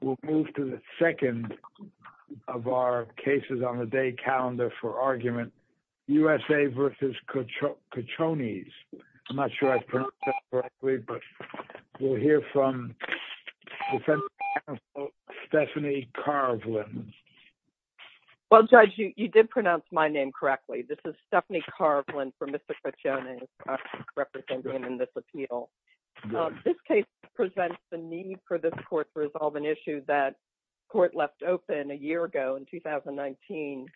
We'll move to the second of our cases on the day calendar for argument, U.S.A. v. Kochonies. I'm not sure I've pronounced that correctly, but we'll hear from Defensive Counsel Stephanie Karvlin. Well, Judge, you did pronounce my name correctly. This is Stephanie Karvlin for Mr. Kochonies, representing him in this appeal. This case presents the need for this court to resolve an issue that court left open a year ago, in 2019,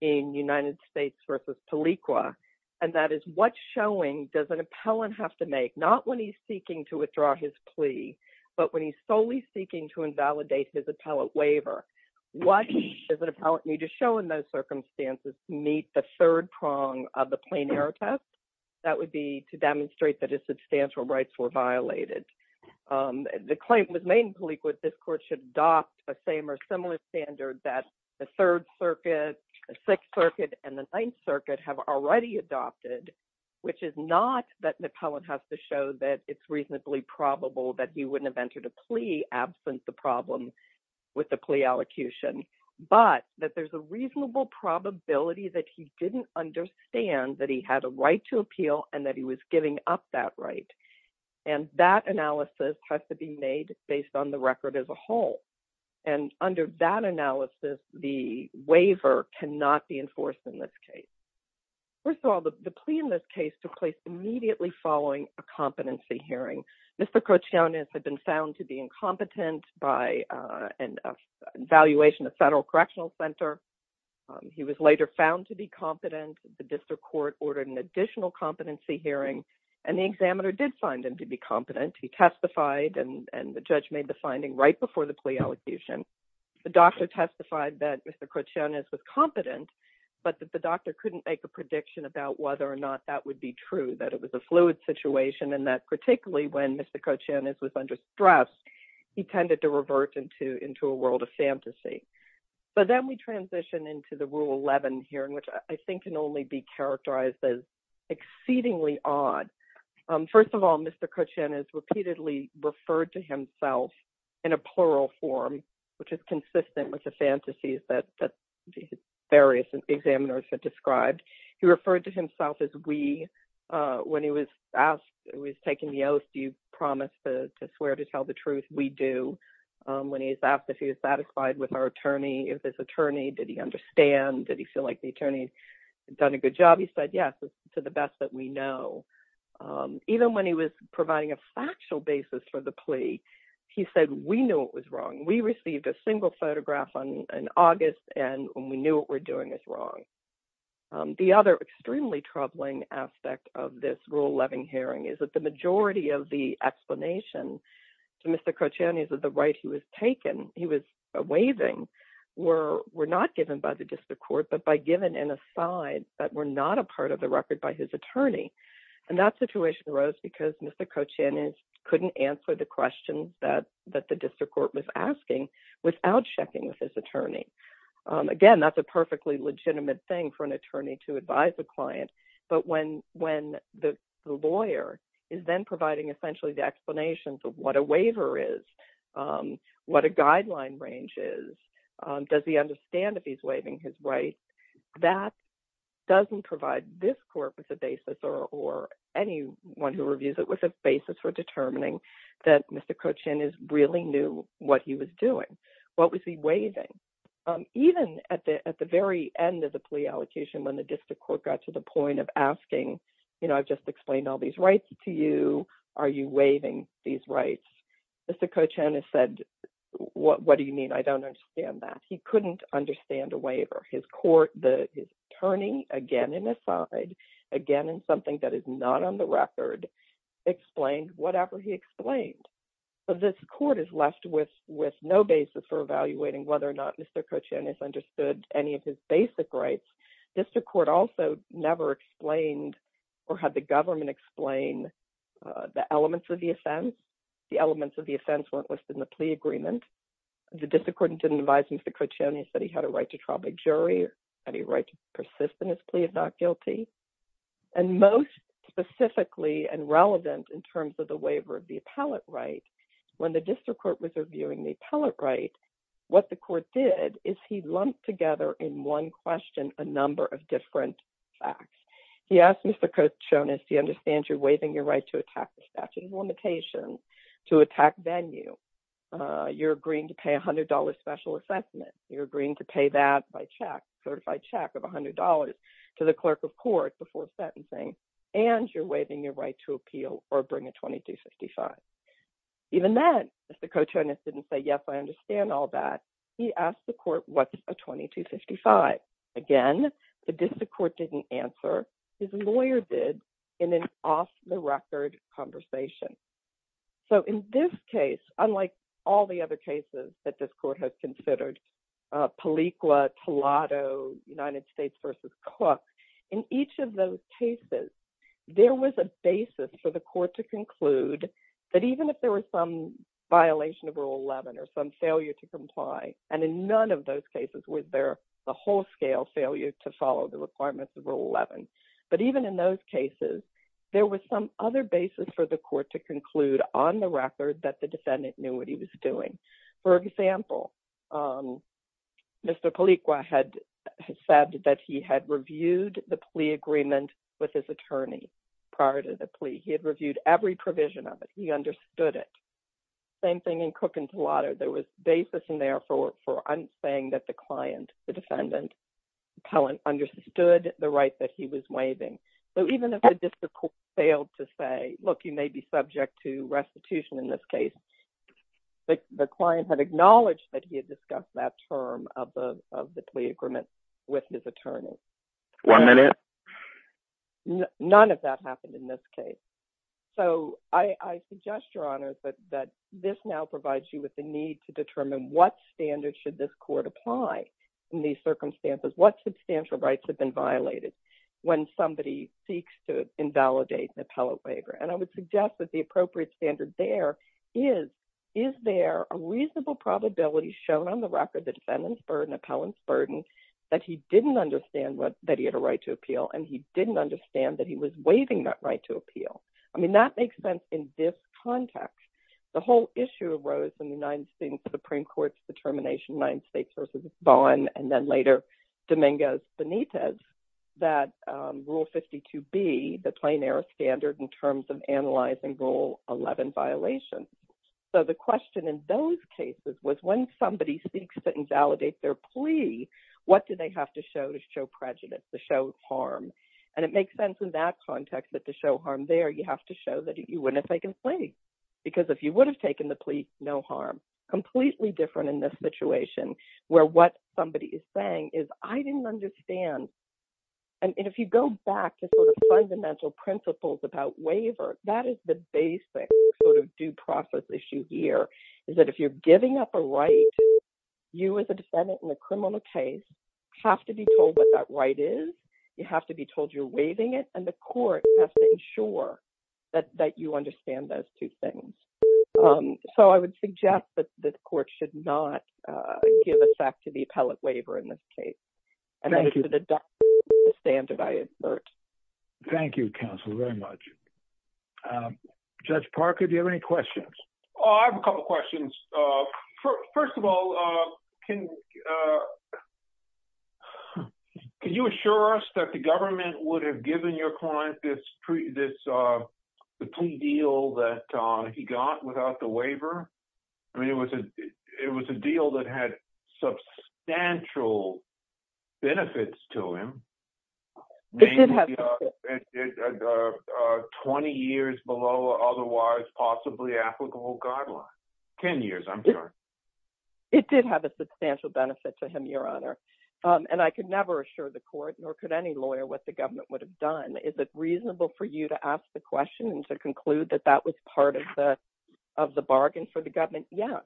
in United States v. Pelequa. And that is, what showing does an appellant have to make, not when he's seeking to withdraw his plea, but when he's solely seeking to invalidate his appellant waiver? What does an appellant need to show in those circumstances to meet the third prong of the plain error test? That would be to demonstrate that his substantial rights were violated. The claim was made in Pelequa that this court should adopt the same or similar standard that the Third Circuit, the Sixth Circuit, and the Ninth Circuit have already adopted, which is not that an appellant has to show that it's reasonably probable that he wouldn't have entered a plea, absent the problem with the plea allocution, but that there's a reasonable probability that he didn't understand that he had a right to appeal and that he was giving up that right. And that analysis has to be made based on the record as a whole. And under that analysis, the waiver cannot be enforced in this case. First of all, the plea in this case took place immediately following a competency hearing. Mr. Cochiones had been found to be incompetent by an evaluation at the Federal Correctional Center. He was later found to be competent. The district court ordered an additional competency hearing, and the examiner did find him to be competent. He testified, and the judge made the finding right before the plea allocation. The doctor testified that Mr. Cochiones was competent, but that the doctor couldn't make a prediction about whether or not that would be true, that it was a fluid situation, and that particularly when Mr. Cochiones was under stress, he tended to revert into a world of fantasy. But then we transition into the Rule 11 hearing, which I think can only be characterized as exceedingly odd. First of all, Mr. Cochiones repeatedly referred to himself in a plural form, which is consistent with the fantasies that various examiners have described. He referred to himself as we. When he was asked, when he was taking the oath, do you promise to swear to tell the truth? We do. When he was asked if he was satisfied with our attorney, if this attorney, did he understand, did he feel like the attorney had done a good job? He said yes, to the best that we know. Even when he was providing a factual basis for the plea, he said we knew it was wrong. We received a single photograph in August, and we knew what we were doing was wrong. The other extremely troubling aspect of this Rule 11 hearing is that the majority of the explanation to Mr. Cochiones of the right he was taking, he was waiving, were not given by the district court, but by given in a sign that were not a part of the record by his attorney. And that situation arose because Mr. Cochiones couldn't answer the questions that the district court was asking without checking with his attorney. Again, that's a perfectly legitimate thing for an attorney to advise a client. But when the lawyer is then providing essentially the explanations of what a waiver is, what a guideline range is, does he understand that he's waiving his rights, that doesn't provide this court with a basis or anyone who reviews it with a basis for determining that Mr. Cochiones really knew what he was doing. What was he waiving? Even at the very end of the plea allocation when the district court got to the point of asking, you know, I've just explained all these rights to you. Are you waiving these rights? Mr. Cochiones said, what do you mean? I don't understand that. He couldn't understand a waiver. His court, his attorney, again in a sign, again in something that is not on the record, explained whatever he explained. So this court is left with no basis for evaluating whether or not Mr. Cochiones understood any of his basic rights. District court also never explained or had the government explain the elements of the offense. The elements of the offense weren't listed in the plea agreement. The district court didn't advise Mr. Cochiones that he had a right to trial by jury, any right to persist in his plea if not guilty. And most specifically and relevant in terms of the waiver of the appellate right, when the district court was reviewing the appellate right, what the court did is he lumped together in one question a number of different facts. He asked Mr. Cochiones, do you understand you're waiving your right to attack the statute of limitations, to attack venue? You're agreeing to pay $100 special assessment. You're agreeing to pay that by check, certified check of $100 to the clerk of court before sentencing, and you're waiving your right to appeal or bring a 2255. Even then, Mr. Cochiones didn't say, yes, I understand all that. He asked the court, what's a 2255? Again, the district court didn't answer. His lawyer did in an off-the-record conversation. So in this case, unlike all the other cases that this court has considered, Paliqua, Toledo, United States v. Cook, in each of those cases, there was a basis for the court to conclude that even if there was some violation of Rule 11 or some failure to comply, and in none of those cases was there the whole scale failure to follow the requirements of Rule 11. But even in those cases, there was some other basis for the court to conclude on the record that the defendant knew what he was doing. For example, Mr. Paliqua had said that he had reviewed the plea agreement with his attorney prior to the plea. He had reviewed every provision of it. He understood it. Same thing in Cook and Toledo. There was basis in there for saying that the client, the defendant, understood the right that he was waiving. So even if the district court failed to say, look, you may be subject to restitution in this case, the client had acknowledged that he had discussed that term of the plea agreement with his attorney. One minute. None of that happened in this case. So I suggest, Your Honors, that this now provides you with the need to determine what standard should this court apply in these circumstances. What substantial rights have been violated when somebody seeks to invalidate an appellate waiver? And I would suggest that the appropriate standard there is, is there a reasonable probability shown on the record, the defendant's burden, appellant's burden, that he didn't understand that he had a right to appeal and he didn't understand that he was waiving that right to appeal? I mean, that makes sense in this context. The whole issue arose in the 19th Supreme Court's determination, Ninth States v. Vaughn, and then later Dominguez Benitez, that Rule 52B, the Plain Air Standard, in terms of analyzing Rule 11 violations. So the question in those cases was when somebody seeks to invalidate their plea, what do they have to show to show prejudice, to show harm? And it makes sense in that context that to show harm there, you have to show that you wouldn't have taken the plea. Because if you would have taken the plea, no harm. Completely different in this situation, where what somebody is saying is, I didn't understand. And if you go back to sort of fundamental principles about waiver, that is the basic sort of due process issue here, is that if you're giving up a right, you as a defendant in a criminal case have to be told what that right is, you have to be told you're waiving it, and the court has to ensure that you understand those two things. So I would suggest that the court should not give effect to the appellate waiver in this case. And that is an adoptive standard, I assert. Thank you, counsel, very much. Judge Parker, do you have any questions? I have a couple questions. First of all, can you assure us that the government would have given your client this plea deal that he got without the waiver? I mean, it was a deal that had substantial benefits to him. It did have benefits. 20 years below otherwise possibly applicable guidelines. 10 years, I'm sure. It did have a substantial benefit to him, Your Honor. And I could never assure the court nor could any lawyer what the government would have done. Is it reasonable for you to ask the question and to conclude that that was part of the bargain for the government? Yes.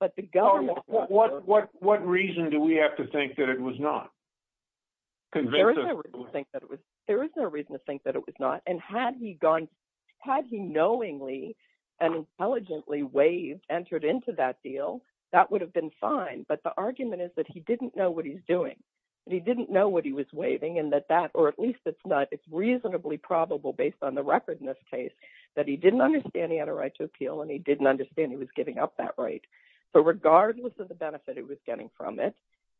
But the government... What reason do we have to think that it was not? There is no reason to think that it was not. And had he knowingly and intelligently waived, entered into that deal, that would have been fine. But the argument is that he didn't know what he was doing. He didn't know what he was waiving and that that, or at least it's not, it's reasonably probable based on the record in this case, that he didn't understand he had a right to appeal and he didn't understand he was giving up that right. So regardless of the benefit he was getting from it,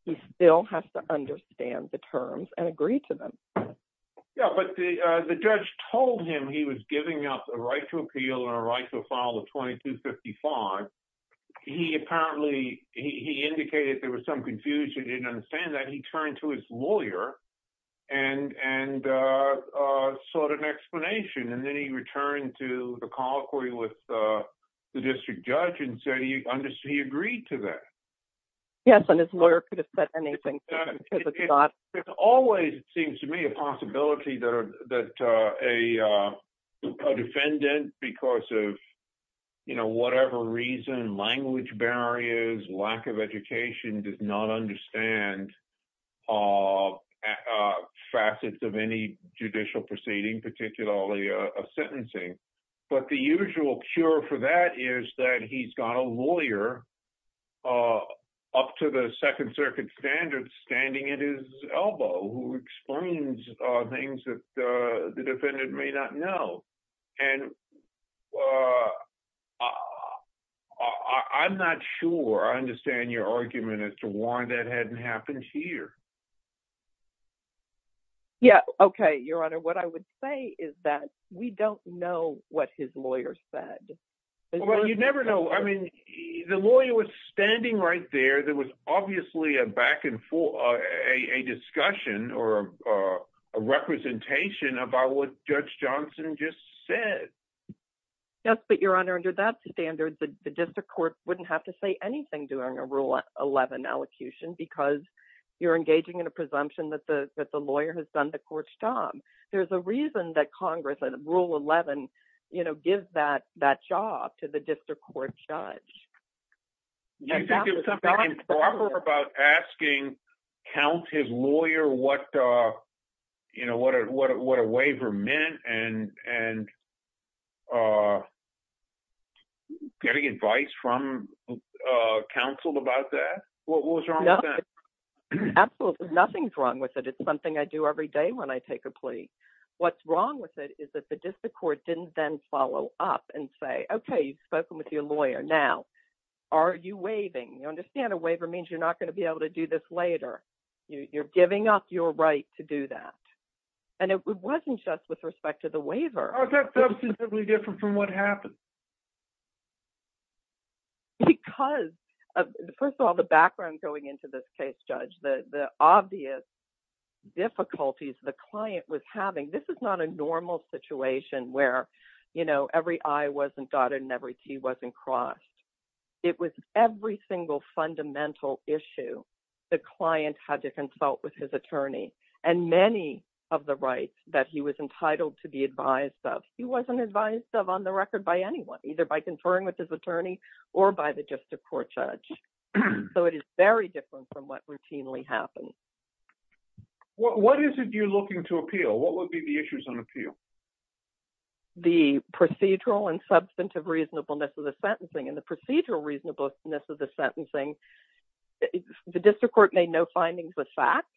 he still has to understand the terms and agree to them. Yeah, but the judge told him he was giving up a right to appeal and a right to file a 2255. He apparently, he indicated there was some confusion. He didn't understand that. He turned to his lawyer and sought an explanation. And then he returned to the colloquy with the district judge and said he agreed to that. Yes. And his lawyer could have said anything. It always seems to me a possibility that a defendant, because of whatever reason, language barriers, lack of education, does not understand facets of any judicial proceeding, particularly a sentencing. But the usual cure for that is that he's got a lawyer up to the Second Circuit standards standing at his elbow who explains things that the defendant may not know. And I'm not sure I understand your argument as to why that hadn't happened here. Yeah. Okay. Your Honor, what I would say is that we don't know what his lawyer said. Well, you never know. I mean, the lawyer was standing right there. There was obviously a back and forth, a discussion or a representation about what Judge Johnson just said. Yes. But, Your Honor, under that standard, the district court wouldn't have to say anything during a Rule 11 elocution because you're engaging in a presumption that the lawyer has done the court's job. There's a reason that Congress and Rule 11 gives that job to the district court judge. Do you think it was something improper about asking, count his lawyer what a waiver meant and getting advice from counsel about that? What was wrong with that? Absolutely. Nothing's wrong with it. It's something I do every day when I take a plea. What's wrong with it is that the district court didn't then follow up and say, okay, you've spoken with your lawyer. Now, are you waiving? You understand a waiver means you're not going to be able to do this later. You're giving up your right to do that. And it wasn't just with respect to the waiver. How is that substantively different from what happened? Because, first of all, the background going into this case, Judge, the obvious difficulties the client was having, this is not a normal situation where, you know, every I wasn't dotted and every T wasn't crossed. It was every single fundamental issue the client had to consult with his attorney and many of the rights that he was entitled to be advised of. He wasn't advised of on the record by anyone, either by conferring with his attorney or by the district court judge. So it is very different from what routinely happens. What is it you're looking to appeal? What would be the issues on appeal? The procedural and substantive reasonableness of the sentencing and the procedural reasonableness of the sentencing. The district court made no findings with facts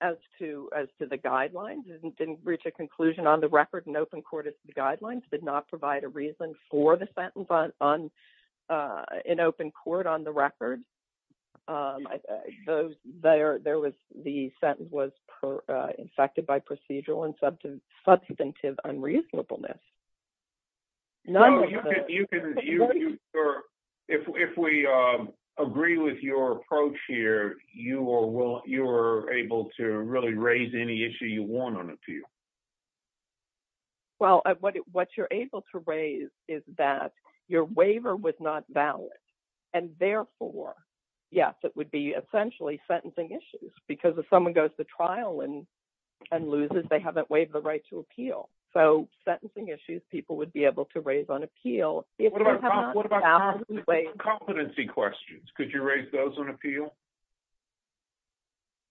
as to the guidelines. It didn't reach a conclusion on the record in open court as to the guidelines. It did not provide a reason for the sentence in open court on the record. The sentence was infected by procedural and substantive unreasonableness. If we agree with your approach here, you are able to really raise any issue you want on appeal. Well, what you're able to raise is that your waiver was not valid. And therefore, yes, it would be essentially sentencing issues because if someone goes to trial and loses, they haven't waived the right to appeal. So sentencing issues, people would be able to raise on appeal. What about competency questions? Could you raise those on appeal?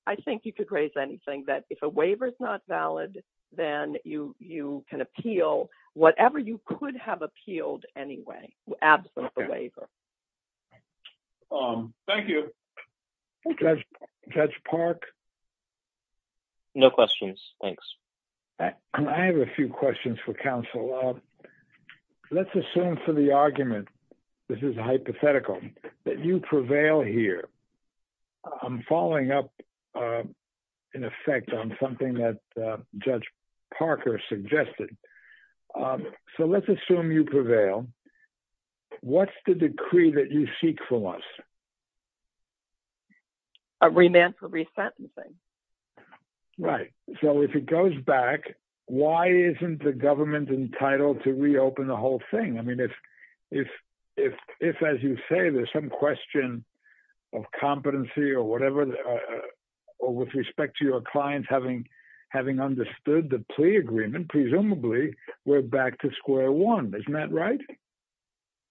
I think you could raise anything that if a waiver is not valid, then you can appeal whatever you could have appealed anyway, absent the waiver. Thank you. Judge Park? No questions. Thanks. I have a few questions for counsel. Let's assume for the argument, this is hypothetical, that you prevail here. I'm following up, in effect, on something that Judge Parker suggested. So let's assume you prevail. What's the decree that you seek from us? A remand for resentencing. Right. So if it goes back, why isn't the government entitled to reopen the whole thing? I mean, if, as you say, there's some question of competency or whatever, or with respect to your clients having understood the plea agreement, presumably, we're back to square one. Isn't that right?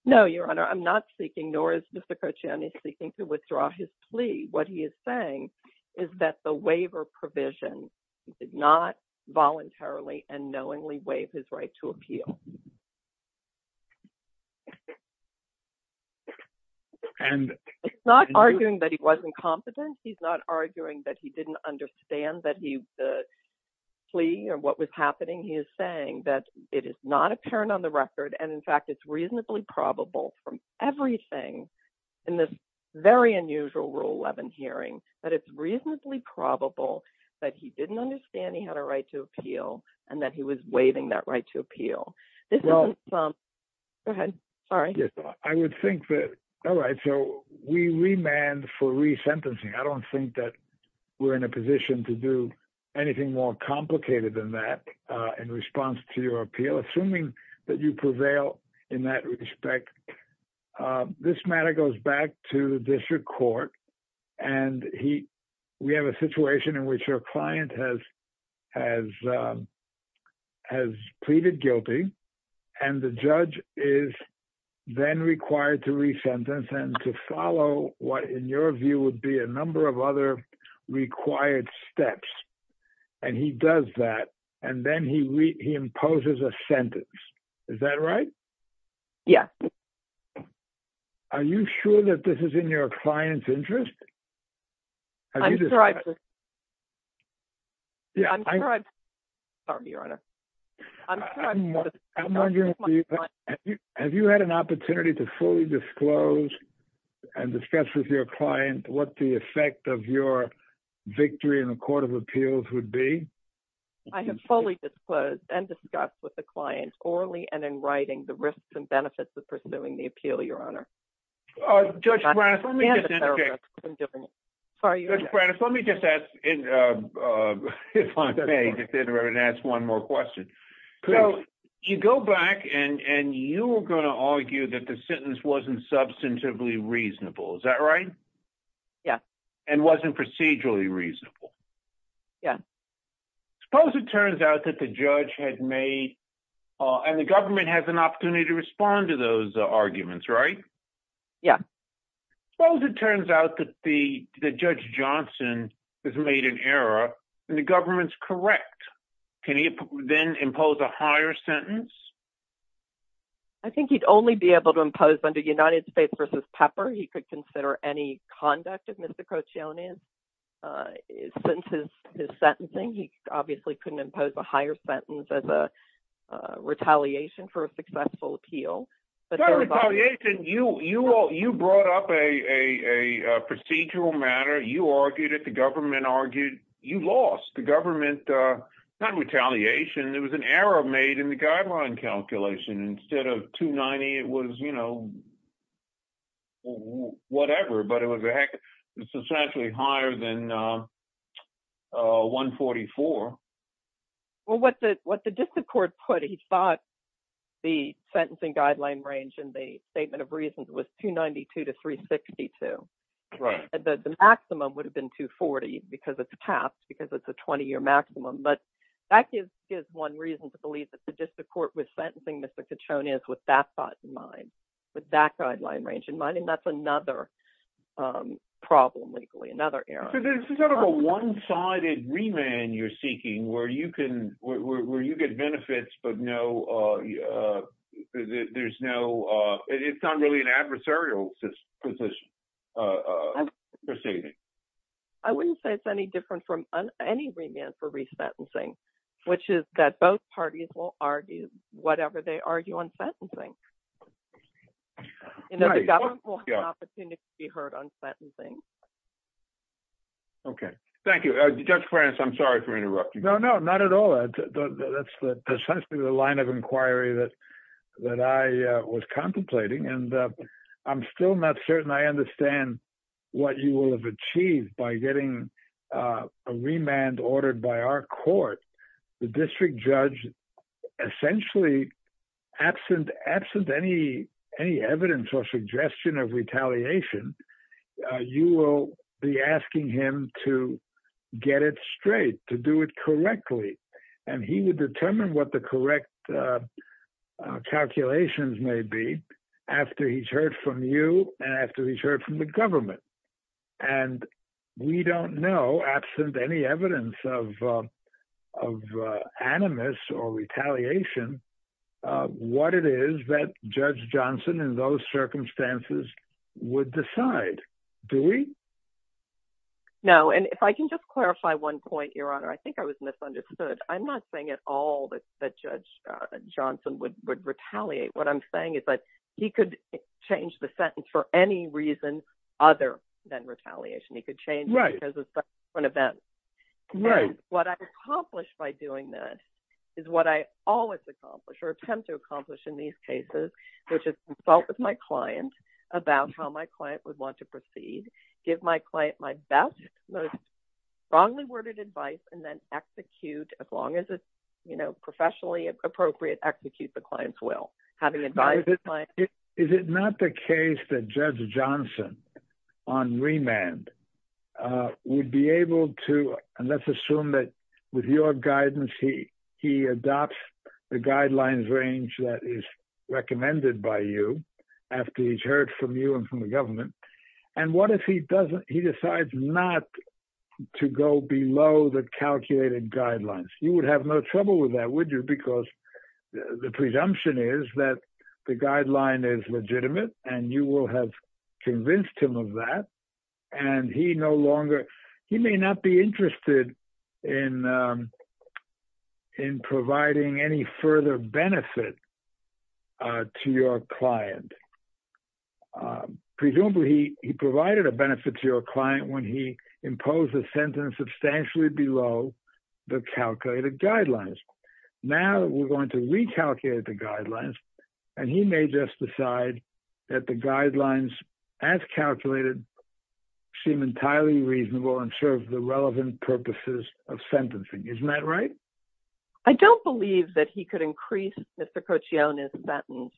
No, Your Honor. I'm not seeking, nor is Mr. Kochani seeking, to withdraw his plea. What he is saying is that the waiver provision did not voluntarily and knowingly waive his right to appeal. He's not arguing that he wasn't competent. He's not arguing that he didn't understand the plea or what was happening. He is saying that it is not apparent on the record and, in fact, it's reasonably probable from everything in this very unusual Rule 11 hearing that it's reasonably probable that he didn't understand he had a right to appeal and that he was waiving that right to appeal. Go ahead. All right. I would think that. All right. So we remand for resentencing. I don't think that we're in a position to do anything more complicated than that in response to your appeal, assuming that you prevail in that respect. This matter goes back to the district court, and we have a situation in which our client has pleaded guilty, and the judge is then required to resentence and to follow what, in your view, would be a number of other required steps. And he does that, and then he imposes a sentence. Is that right? Yeah. Are you sure that this is in your client's interest? I'm sorry. Yeah, I'm sorry, Your Honor. I'm wondering if you had an opportunity to fully disclose and discuss with your client what the effect of your victory in the Court of Appeals would be. I have fully disclosed and discussed with the client, orally and in writing, the risks and benefits of pursuing the appeal, Your Honor. Judge Branis, let me just interject. Judge Branis, let me just ask, if I may, to ask one more question. You go back, and you were going to argue that the sentence wasn't substantively reasonable. Is that right? Yes. And wasn't procedurally reasonable. Yes. Suppose it turns out that the judge had made, and the government has an opportunity to respond to those arguments, right? Yeah. Suppose it turns out that Judge Johnson has made an error, and the government's correct. Can he then impose a higher sentence? I think he'd only be able to impose under United States v. Pepper. He could consider any conduct if Mr. Crocione sentenced his sentencing. He obviously couldn't impose a higher sentence as a retaliation for a successful appeal. You brought up a procedural matter. You argued it. The government argued. You lost. The government, not retaliation. There was an error made in the guideline calculation. Instead of 290, it was, you know, whatever, but it was substantially higher than 144. Well, what the district court put, he thought the sentencing guideline range in the statement of reasons was 292 to 362. Right. The maximum would have been 240, because it's passed, because it's a 20-year maximum. But that gives one reason to believe that the district court was sentencing Mr. Crocione with that thought in mind, with that guideline range in mind. And that's another problem, legally, another error. So there's sort of a one-sided remand you're seeking, where you get benefits, but there's no—it's not really an adversarial position. I wouldn't say it's any different from any remand for resentencing, which is that both parties will argue whatever they argue on sentencing. The government will have an opportunity to be heard on sentencing. Okay. Thank you. Judge France, I'm sorry for interrupting. No, no, not at all. That's precisely the line of inquiry that I was contemplating, and I'm still not certain I understand what you will have achieved by getting a remand ordered by our court. The district judge, essentially, absent any evidence or suggestion of retaliation, you will be asking him to get it straight, to do it correctly. And he would determine what the correct calculations may be after he's heard from you and after he's heard from the government. And we don't know, absent any evidence of animus or retaliation, what it is that Judge Johnson in those circumstances would decide, do we? No, and if I can just clarify one point, Your Honor, I think I was misunderstood. I'm not saying at all that Judge Johnson would retaliate. What I'm saying is that he could change the sentence for any reason other than retaliation. He could change it because of subsequent events. Right. And what I accomplished by doing that is what I always accomplish or attempt to accomplish in these cases, which is consult with my client about how my client would want to proceed, give my client my best, most strongly worded advice, and then execute, as long as it's professionally appropriate, execute the client's will. Is it not the case that Judge Johnson on remand would be able to, and let's assume that with your guidance, he adopts the guidelines range that is recommended by you after he's heard from you and from the government. And what if he decides not to go below the calculated guidelines? You would have no trouble with that, would you? Because the presumption is that the guideline is legitimate and you will have convinced him of that. And he no longer, he may not be interested in providing any further benefit to your client. Presumably, he provided a benefit to your client when he imposed a sentence substantially below the calculated guidelines. Now we're going to recalculate the guidelines, and he may just decide that the guidelines as calculated seem entirely reasonable and serve the relevant purposes of sentencing. Isn't that right? I don't believe that he could increase Mr. Cochione's sentence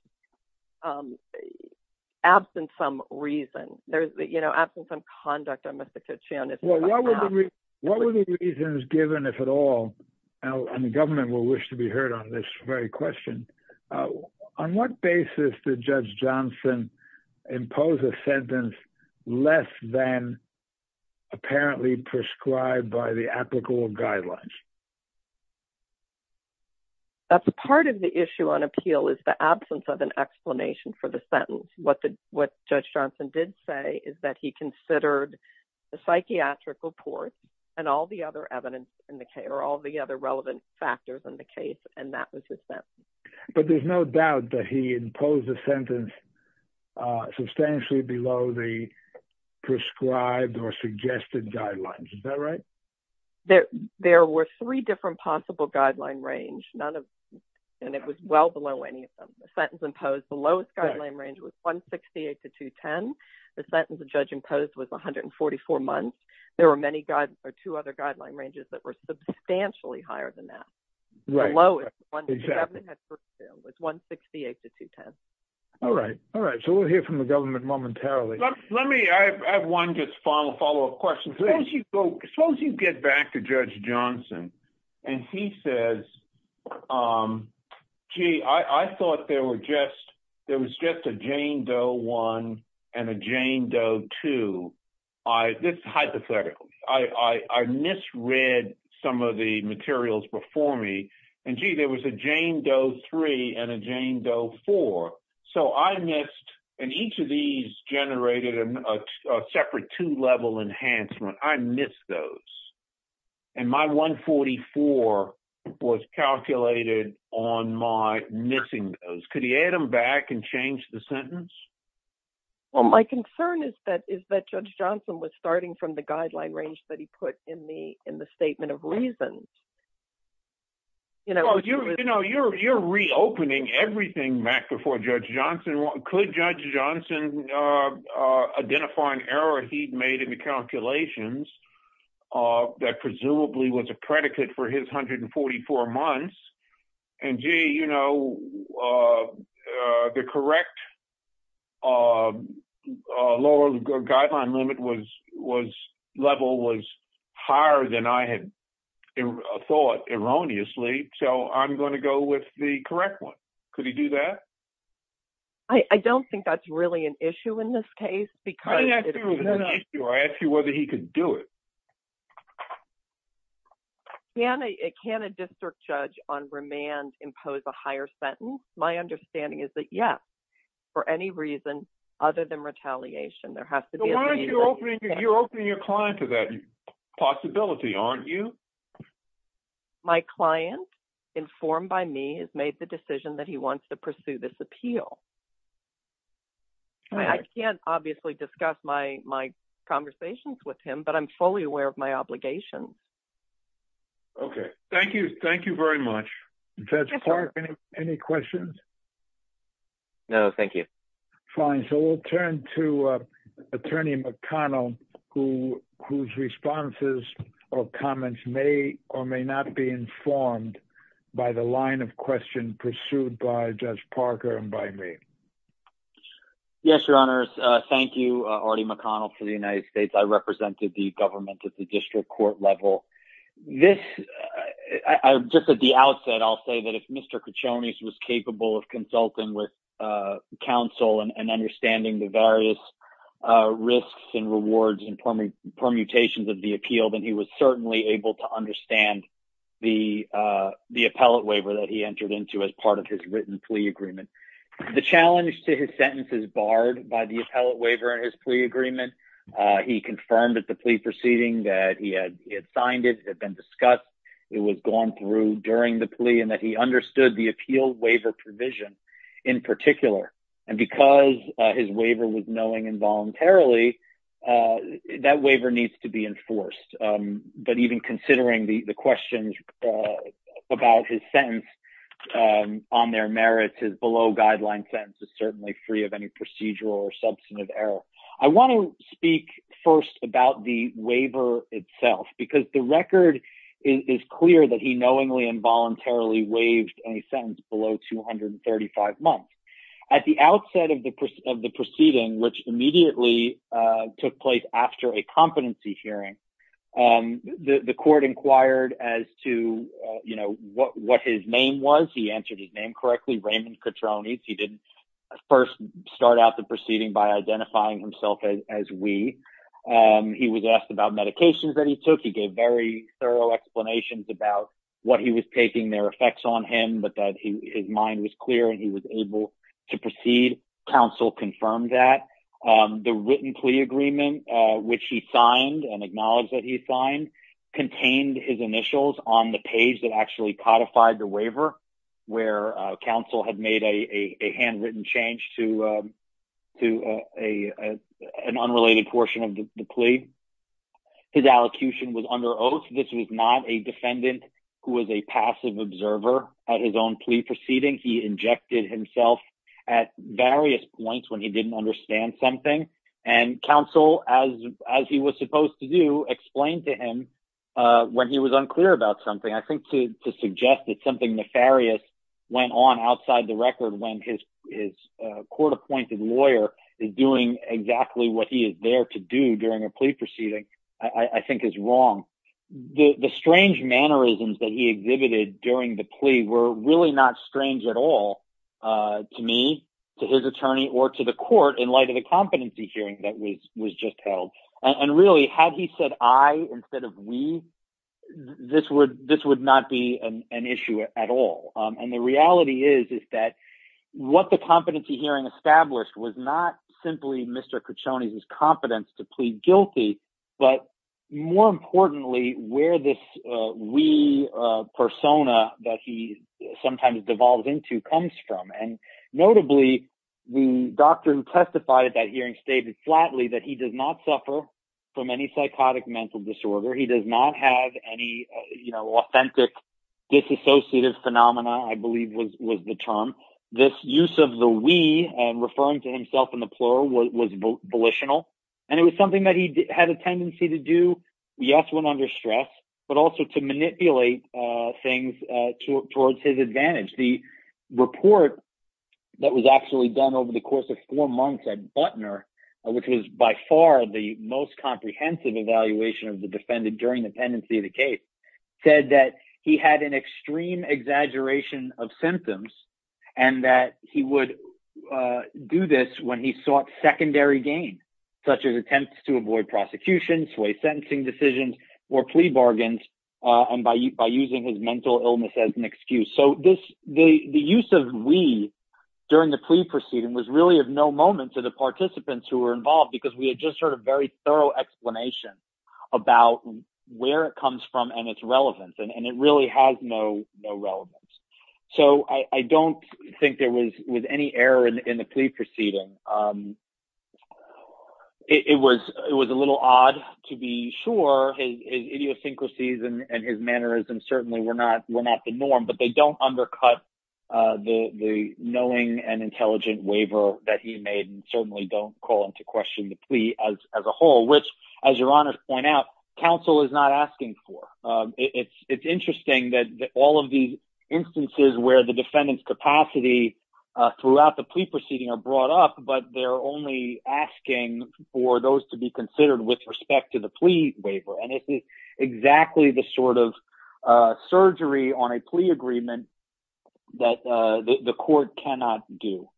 absent some reason. You know, absent some conduct on Mr. Cochione's behalf. What were the reasons given, if at all? And the government will wish to be heard on this very question. On what basis did Judge Johnson impose a sentence less than apparently prescribed by the applicable guidelines? Part of the issue on appeal is the absence of an explanation for the sentence. What Judge Johnson did say is that he considered the psychiatric report and all the other relevant factors in the case, and that was his sentence. But there's no doubt that he imposed a sentence substantially below the prescribed or suggested guidelines. Is that right? There were three different possible guideline ranges, and it was well below any of them. The sentence imposed, the lowest guideline range was 168 to 210. The sentence the judge imposed was 144 months. There were two other guideline ranges that were substantially higher than that. The lowest was 168 to 210. All right. All right. So we'll hear from the government momentarily. Let me have one just final follow-up question, please. Suppose you get back to Judge Johnson and he says, gee, I thought there was just a Jane Doe I and a Jane Doe II. This is hypothetical. I misread some of the materials before me. And, gee, there was a Jane Doe III and a Jane Doe IV. So I missed, and each of these generated a separate two-level enhancement. I missed those. And my 144 was calculated on my missing those. Could he add them back and change the sentence? Well, my concern is that Judge Johnson was starting from the guideline range that he put in the statement of reasons. You know, you're reopening everything back before Judge Johnson. Could Judge Johnson identify an error he'd made in the calculations that presumably was a predicate for his 144 months? And, gee, you know, the correct lower guideline limit level was higher than I had thought, erroneously. So I'm going to go with the correct one. Could he do that? I don't think that's really an issue in this case. I didn't ask you if it was an issue. I asked you whether he could do it. Can a district judge on remand impose a higher sentence? My understanding is that, yes, for any reason other than retaliation. There has to be a reason. But why aren't you opening your client to that possibility, aren't you? My client, informed by me, has made the decision that he wants to pursue this appeal. I can't obviously discuss my conversations with him, but I'm fully aware of my obligation. Okay. Thank you. Thank you very much. Judge Parker, any questions? No, thank you. Fine. So we'll turn to Attorney McConnell, whose responses or comments may or may not be informed by the line of question pursued by Judge Parker and by me. Yes, Your Honors. Thank you, Artie McConnell, for the United States. I represented the government at the district court level. Just at the outset, I'll say that if Mr. Kachonis was capable of consulting with counsel and understanding the various risks and rewards and permutations of the appeal, then he was certainly able to understand the appellate waiver that he entered into as part of his written plea agreement. The challenge to his sentence is barred by the appellate waiver in his plea agreement. He confirmed at the plea proceeding that he had signed it, it had been discussed, it was gone through during the plea, and that he understood the appeal waiver provision in particular. And because his waiver was knowing involuntarily, that waiver needs to be enforced. But even considering the questions about his sentence on their merits, his below-guideline sentence is certainly free of any procedural or substantive error. I want to speak first about the waiver itself, because the record is clear that he knowingly and voluntarily waived a sentence below 235 months. At the outset of the proceeding, which immediately took place after a competency hearing, the court inquired as to what his name was. He answered his name correctly, Raymond Kachonis. He didn't first start out the proceeding by identifying himself as we. He was asked about medications that he took. He gave very thorough explanations about what he was taking, their effects on him, but that his mind was clear and he was able to proceed. Counsel confirmed that. The written plea agreement, which he signed and acknowledged that he signed, contained his initials on the page that actually codified the waiver, where counsel had made a handwritten change to an unrelated portion of the plea. His allocution was under oath. This was not a defendant who was a passive observer at his own plea proceeding. He injected himself at various points when he didn't understand something. And counsel, as he was supposed to do, explained to him when he was unclear about something. I think to suggest that something nefarious went on outside the record when his court-appointed lawyer is doing exactly what he is there to do during a plea proceeding, I think is wrong. The strange mannerisms that he exhibited during the plea were really not strange at all to me, to his attorney, or to the court in light of the competency hearing that was just held. And really, had he said I instead of we, this would not be an issue at all. And the reality is that what the competency hearing established was not simply Mr. Caccione's competence to plead guilty, but more importantly, where this we persona that he sometimes devolves into comes from. And notably, the doctor who testified at that hearing stated flatly that he does not suffer from any psychotic mental disorder. He does not have any authentic disassociative phenomena, I believe was the term. This use of the we, referring to himself in the plural, was volitional. And it was something that he had a tendency to do, yes, when under stress, but also to manipulate things towards his advantage. The report that was actually done over the course of four months at Butner, which was by far the most comprehensive evaluation of the defendant during the pendency of the case, said that he had an extreme exaggeration of symptoms. And that he would do this when he sought secondary gain, such as attempts to avoid prosecution, sway sentencing decisions, or plea bargains, and by using his mental illness as an excuse. So the use of we during the plea proceeding was really of no moment to the participants who were involved, because we had just heard a very thorough explanation about where it comes from and its relevance. And it really has no relevance. So I don't think there was any error in the plea proceeding. It was a little odd to be sure. His idiosyncrasies and his mannerisms certainly were not the norm, but they don't undercut the knowing and intelligent waiver that he made, and certainly don't call into question the plea as a whole. Which, as your honors point out, counsel is not asking for. It's interesting that all of these instances where the defendant's capacity throughout the plea proceeding are brought up, but they're only asking for those to be considered with respect to the plea waiver. And it's exactly the sort of surgery on a plea agreement that the court cannot do.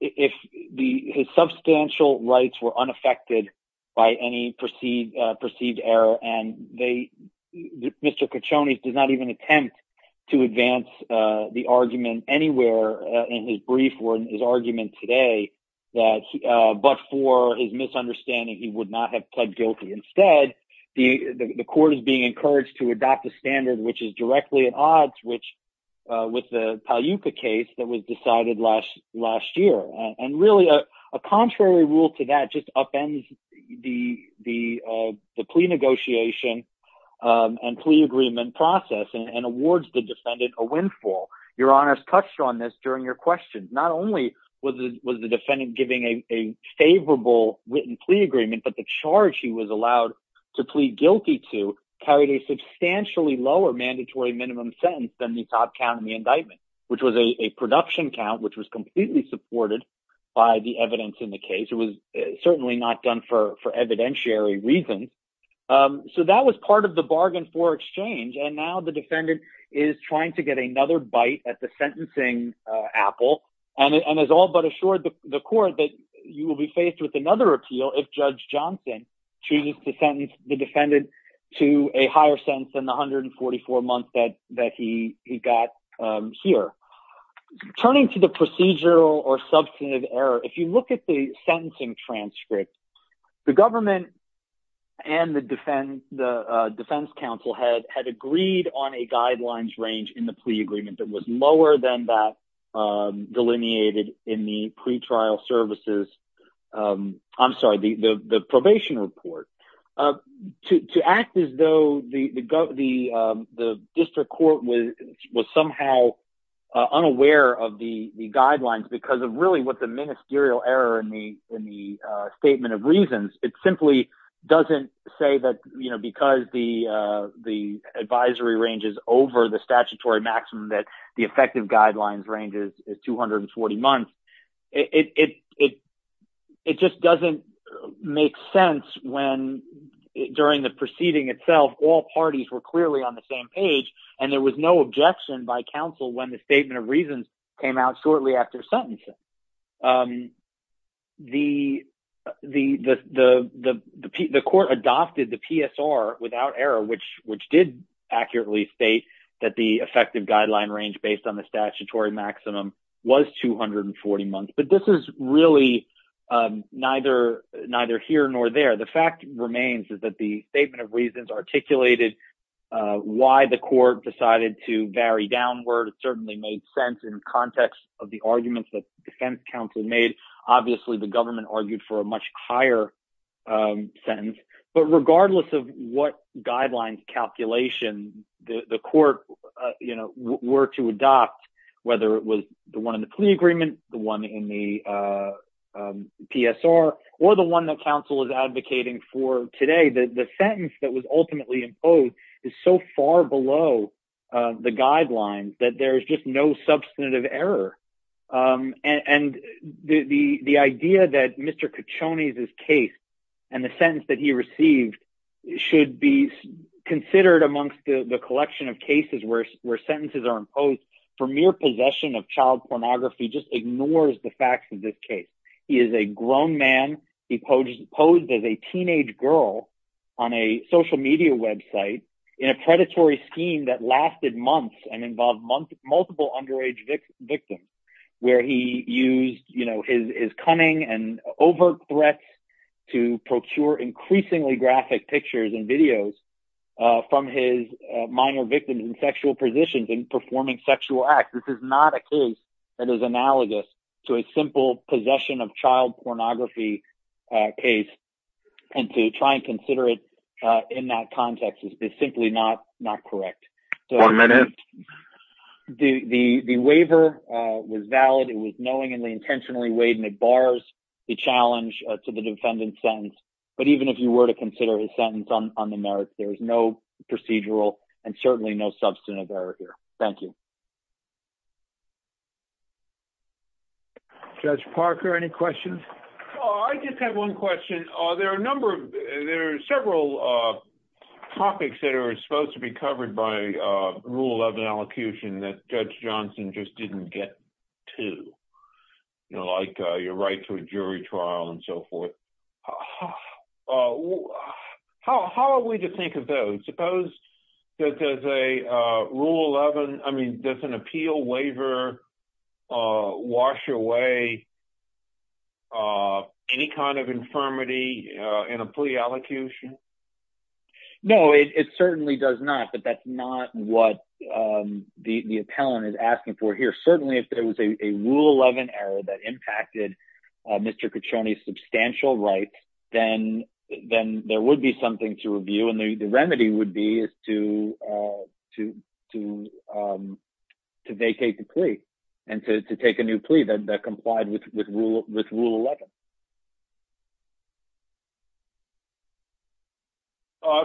His substantial rights were unaffected by any perceived error, and Mr. Kachonis does not even attempt to advance the argument anywhere in his brief or in his argument today, but for his misunderstanding, he would not have pled guilty. Instead, the court is being encouraged to adopt a standard which is directly at odds with the Paliuka case that was decided last year. And really, a contrary rule to that just upends the plea negotiation and plea agreement process and awards the defendant a windfall. Your honors touched on this during your questions. Not only was the defendant giving a favorable written plea agreement, but the charge he was allowed to plead guilty to carried a substantially lower mandatory minimum sentence than the top count in the indictment. Which was a production count, which was completely supported by the evidence in the case. It was certainly not done for evidentiary reasons. So that was part of the bargain for exchange, and now the defendant is trying to get another bite at the sentencing apple, and has all but assured the court that you will be faced with another appeal if Judge Johnson chooses to sentence the defendant to a higher sentence than the 144 months that he got here. Turning to the procedural or substantive error, if you look at the sentencing transcript, the government and the defense counsel had agreed on a guidelines range in the plea agreement that was lower than that delineated in the probation report. To act as though the district court was somehow unaware of the guidelines because of really what the ministerial error in the statement of reasons, it simply doesn't say that because the advisory range is over the statutory maximum that the effective guidelines range is 240 months. It just doesn't make sense when, during the proceeding itself, all parties were clearly on the same page, and there was no objection by counsel when the statement of reasons came out shortly after sentencing. The court adopted the PSR without error, which did accurately state that the effective guideline range based on the statutory maximum was 240 months, but this is really neither here nor there. The fact remains is that the statement of reasons articulated why the court decided to vary downward. It certainly made sense in context of the arguments that the defense counsel made. Obviously, the government argued for a much higher sentence, but regardless of what guidelines calculation the court were to adopt, whether it was the one in the plea agreement, the one in the PSR, or the one that counsel is advocating for today, the sentence that was ultimately imposed is so far below the guidelines that there is just no substantive error. The idea that Mr. Caccione's case and the sentence that he received should be considered amongst the collection of cases where sentences are imposed for mere possession of child pornography just ignores the facts of this case. He is a grown man. He posed as a teenage girl on a social media website in a predatory scheme that lasted months and involved multiple underage victims, where he used his cunning and overt threats to procure increasingly graphic pictures and videos from his minor victims in sexual positions and performing sexual acts. This is not a case that is analogous to a simple possession of child pornography case, and to try and consider it in that context is simply not correct. The waiver was valid. It was knowingly and intentionally waived, and it bars the challenge to the defendant's sentence, but even if you were to consider his sentence on the merits, there is no procedural and certainly no substantive error here. Thank you. Judge Parker, any questions? I just have one question. There are a number of – there are several topics that are supposed to be covered by Rule 11 elocution that Judge Johnson just didn't get to, like your right to a jury trial and so forth. How are we to think of those? Suppose there's a Rule 11 – I mean, does an appeal waiver wash away any kind of infirmity in a plea elocution? No, it certainly does not, but that's not what the appellant is asking for here. Certainly, if there was a Rule 11 error that impacted Mr. Caccione's substantial rights, then there would be something to review, and the remedy would be to vacate the plea and to take a new plea that complied with Rule 11.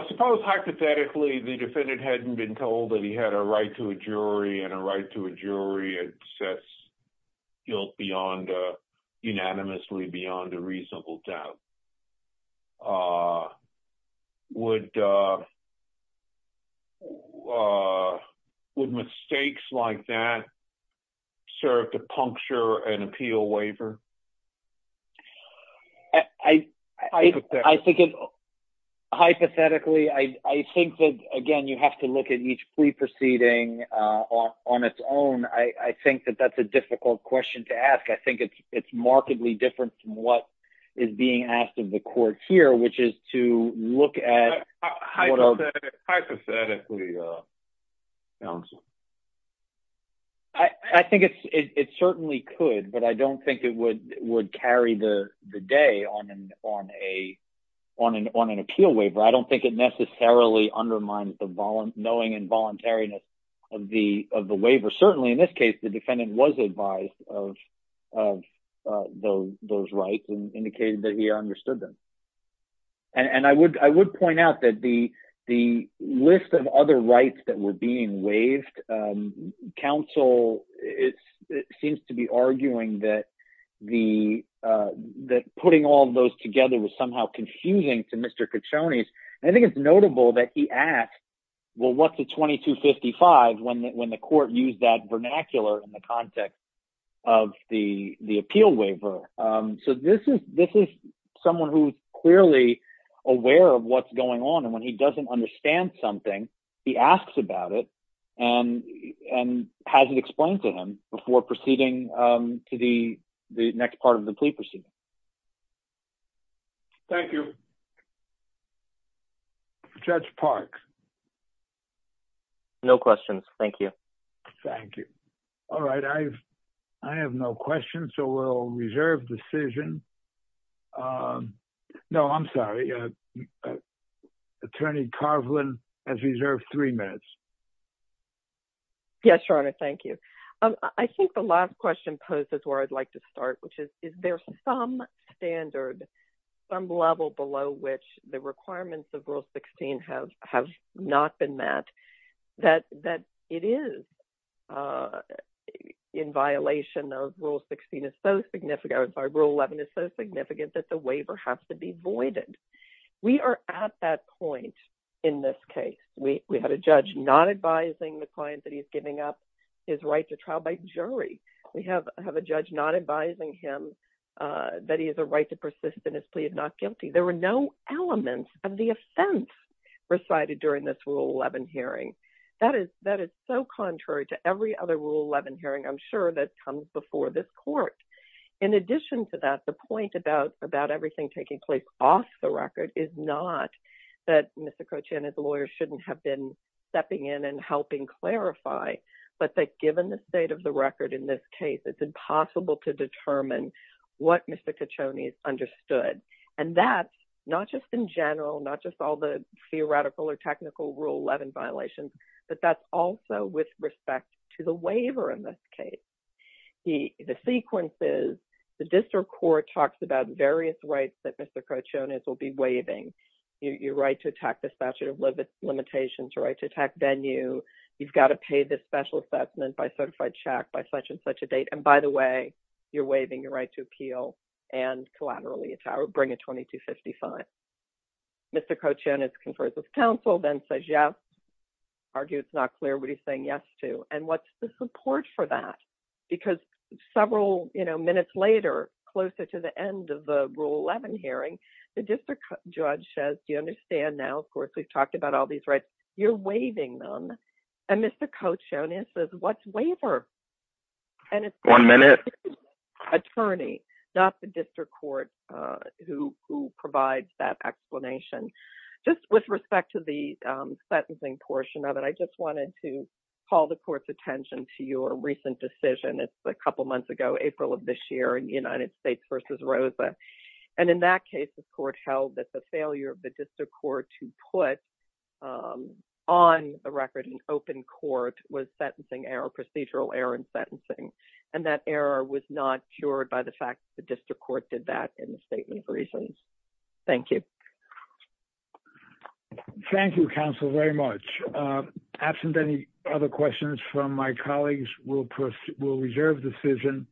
Suppose, hypothetically, the defendant hadn't been told that he had a right to a jury and a right to a jury that sets guilt unanimously beyond a reasonable doubt. Would mistakes like that serve to puncture an appeal waiver? Hypothetically, I think that, again, you have to look at each plea proceeding on its own. I think that that's a difficult question to ask. I think it's markedly different from what is being asked of the court here, which is to look at – Hypothetically, counsel. I think it certainly could, but I don't think it would carry the day on an appeal waiver. I don't think it necessarily undermines the knowing and voluntariness of the waiver. Certainly, in this case, the defendant was advised of those rights and indicated that he understood them. I would point out that the list of other rights that were being waived, counsel seems to be arguing that putting all of those together was somehow confusing to Mr. Caccione's. I think it's notable that he asked, well, what's a 2255 when the court used that vernacular in the context of the appeal waiver? This is someone who's clearly aware of what's going on, and when he doesn't understand something, he asks about it and has it explained to him before proceeding to the next part of the plea proceeding. Thank you. Judge Park. No questions. Thank you. Thank you. All right. I have no questions, so we'll reserve decision. No, I'm sorry. Attorney Carvelin has reserved three minutes. Yes, Your Honor. Thank you. I think the last question poses where I'd like to start, which is, is there some standard, some level below which the requirements of Rule 16 have not been met that it is in violation of Rule 16 is so significant, I'm sorry, Rule 11 is so significant that the waiver has to be voided. We are at that point in this case. We had a judge not advising the client that he's giving up his right to trial by jury. We have a judge not advising him that he has a right to persist in his plea of not guilty. There were no elements of the offense recited during this Rule 11 hearing. That is so contrary to every other Rule 11 hearing I'm sure that comes before this court. In addition to that, the point about everything taking place off the record is not that Mr. Cochrane as a lawyer shouldn't have been stepping in and helping clarify, but that given the state of the record in this case, it's impossible to determine what Mr. Caccione has understood. And that's not just in general, not just all the theoretical or technical Rule 11 violations, but that's also with respect to the waiver in this case. The sequence is, the district court talks about various rights that Mr. Cochrane will be waiving. Your right to attack the statute of limitations, your right to attack venue, you've got to pay this special assessment by certified check by such and such a date. And by the way, you're waiving your right to appeal and collaterally bring a 2255. Mr. Cochrane confers with counsel, then says yes, argues it's not clear what he's saying yes to. And what's the support for that? Because several minutes later, closer to the end of the Rule 11 hearing, the district judge says, do you understand now, of course, we've talked about all these rights, you're waiving them. And Mr. Cochrane answers, what's waiver? One minute. Attorney, not the district court who provides that explanation. Just with respect to the sentencing portion of it, I just wanted to call the court's attention to your recent decision. It's a couple months ago, April of this year in the United States versus Rosa. And in that case, the court held that the failure of the district court to put on the record in open court was sentencing error, procedural error in sentencing. And that error was not cured by the fact that the district court did that in the statement of reasons. Thank you. Thank you, counsel, very much. Absent any other questions from my colleagues, we'll reserve the decision.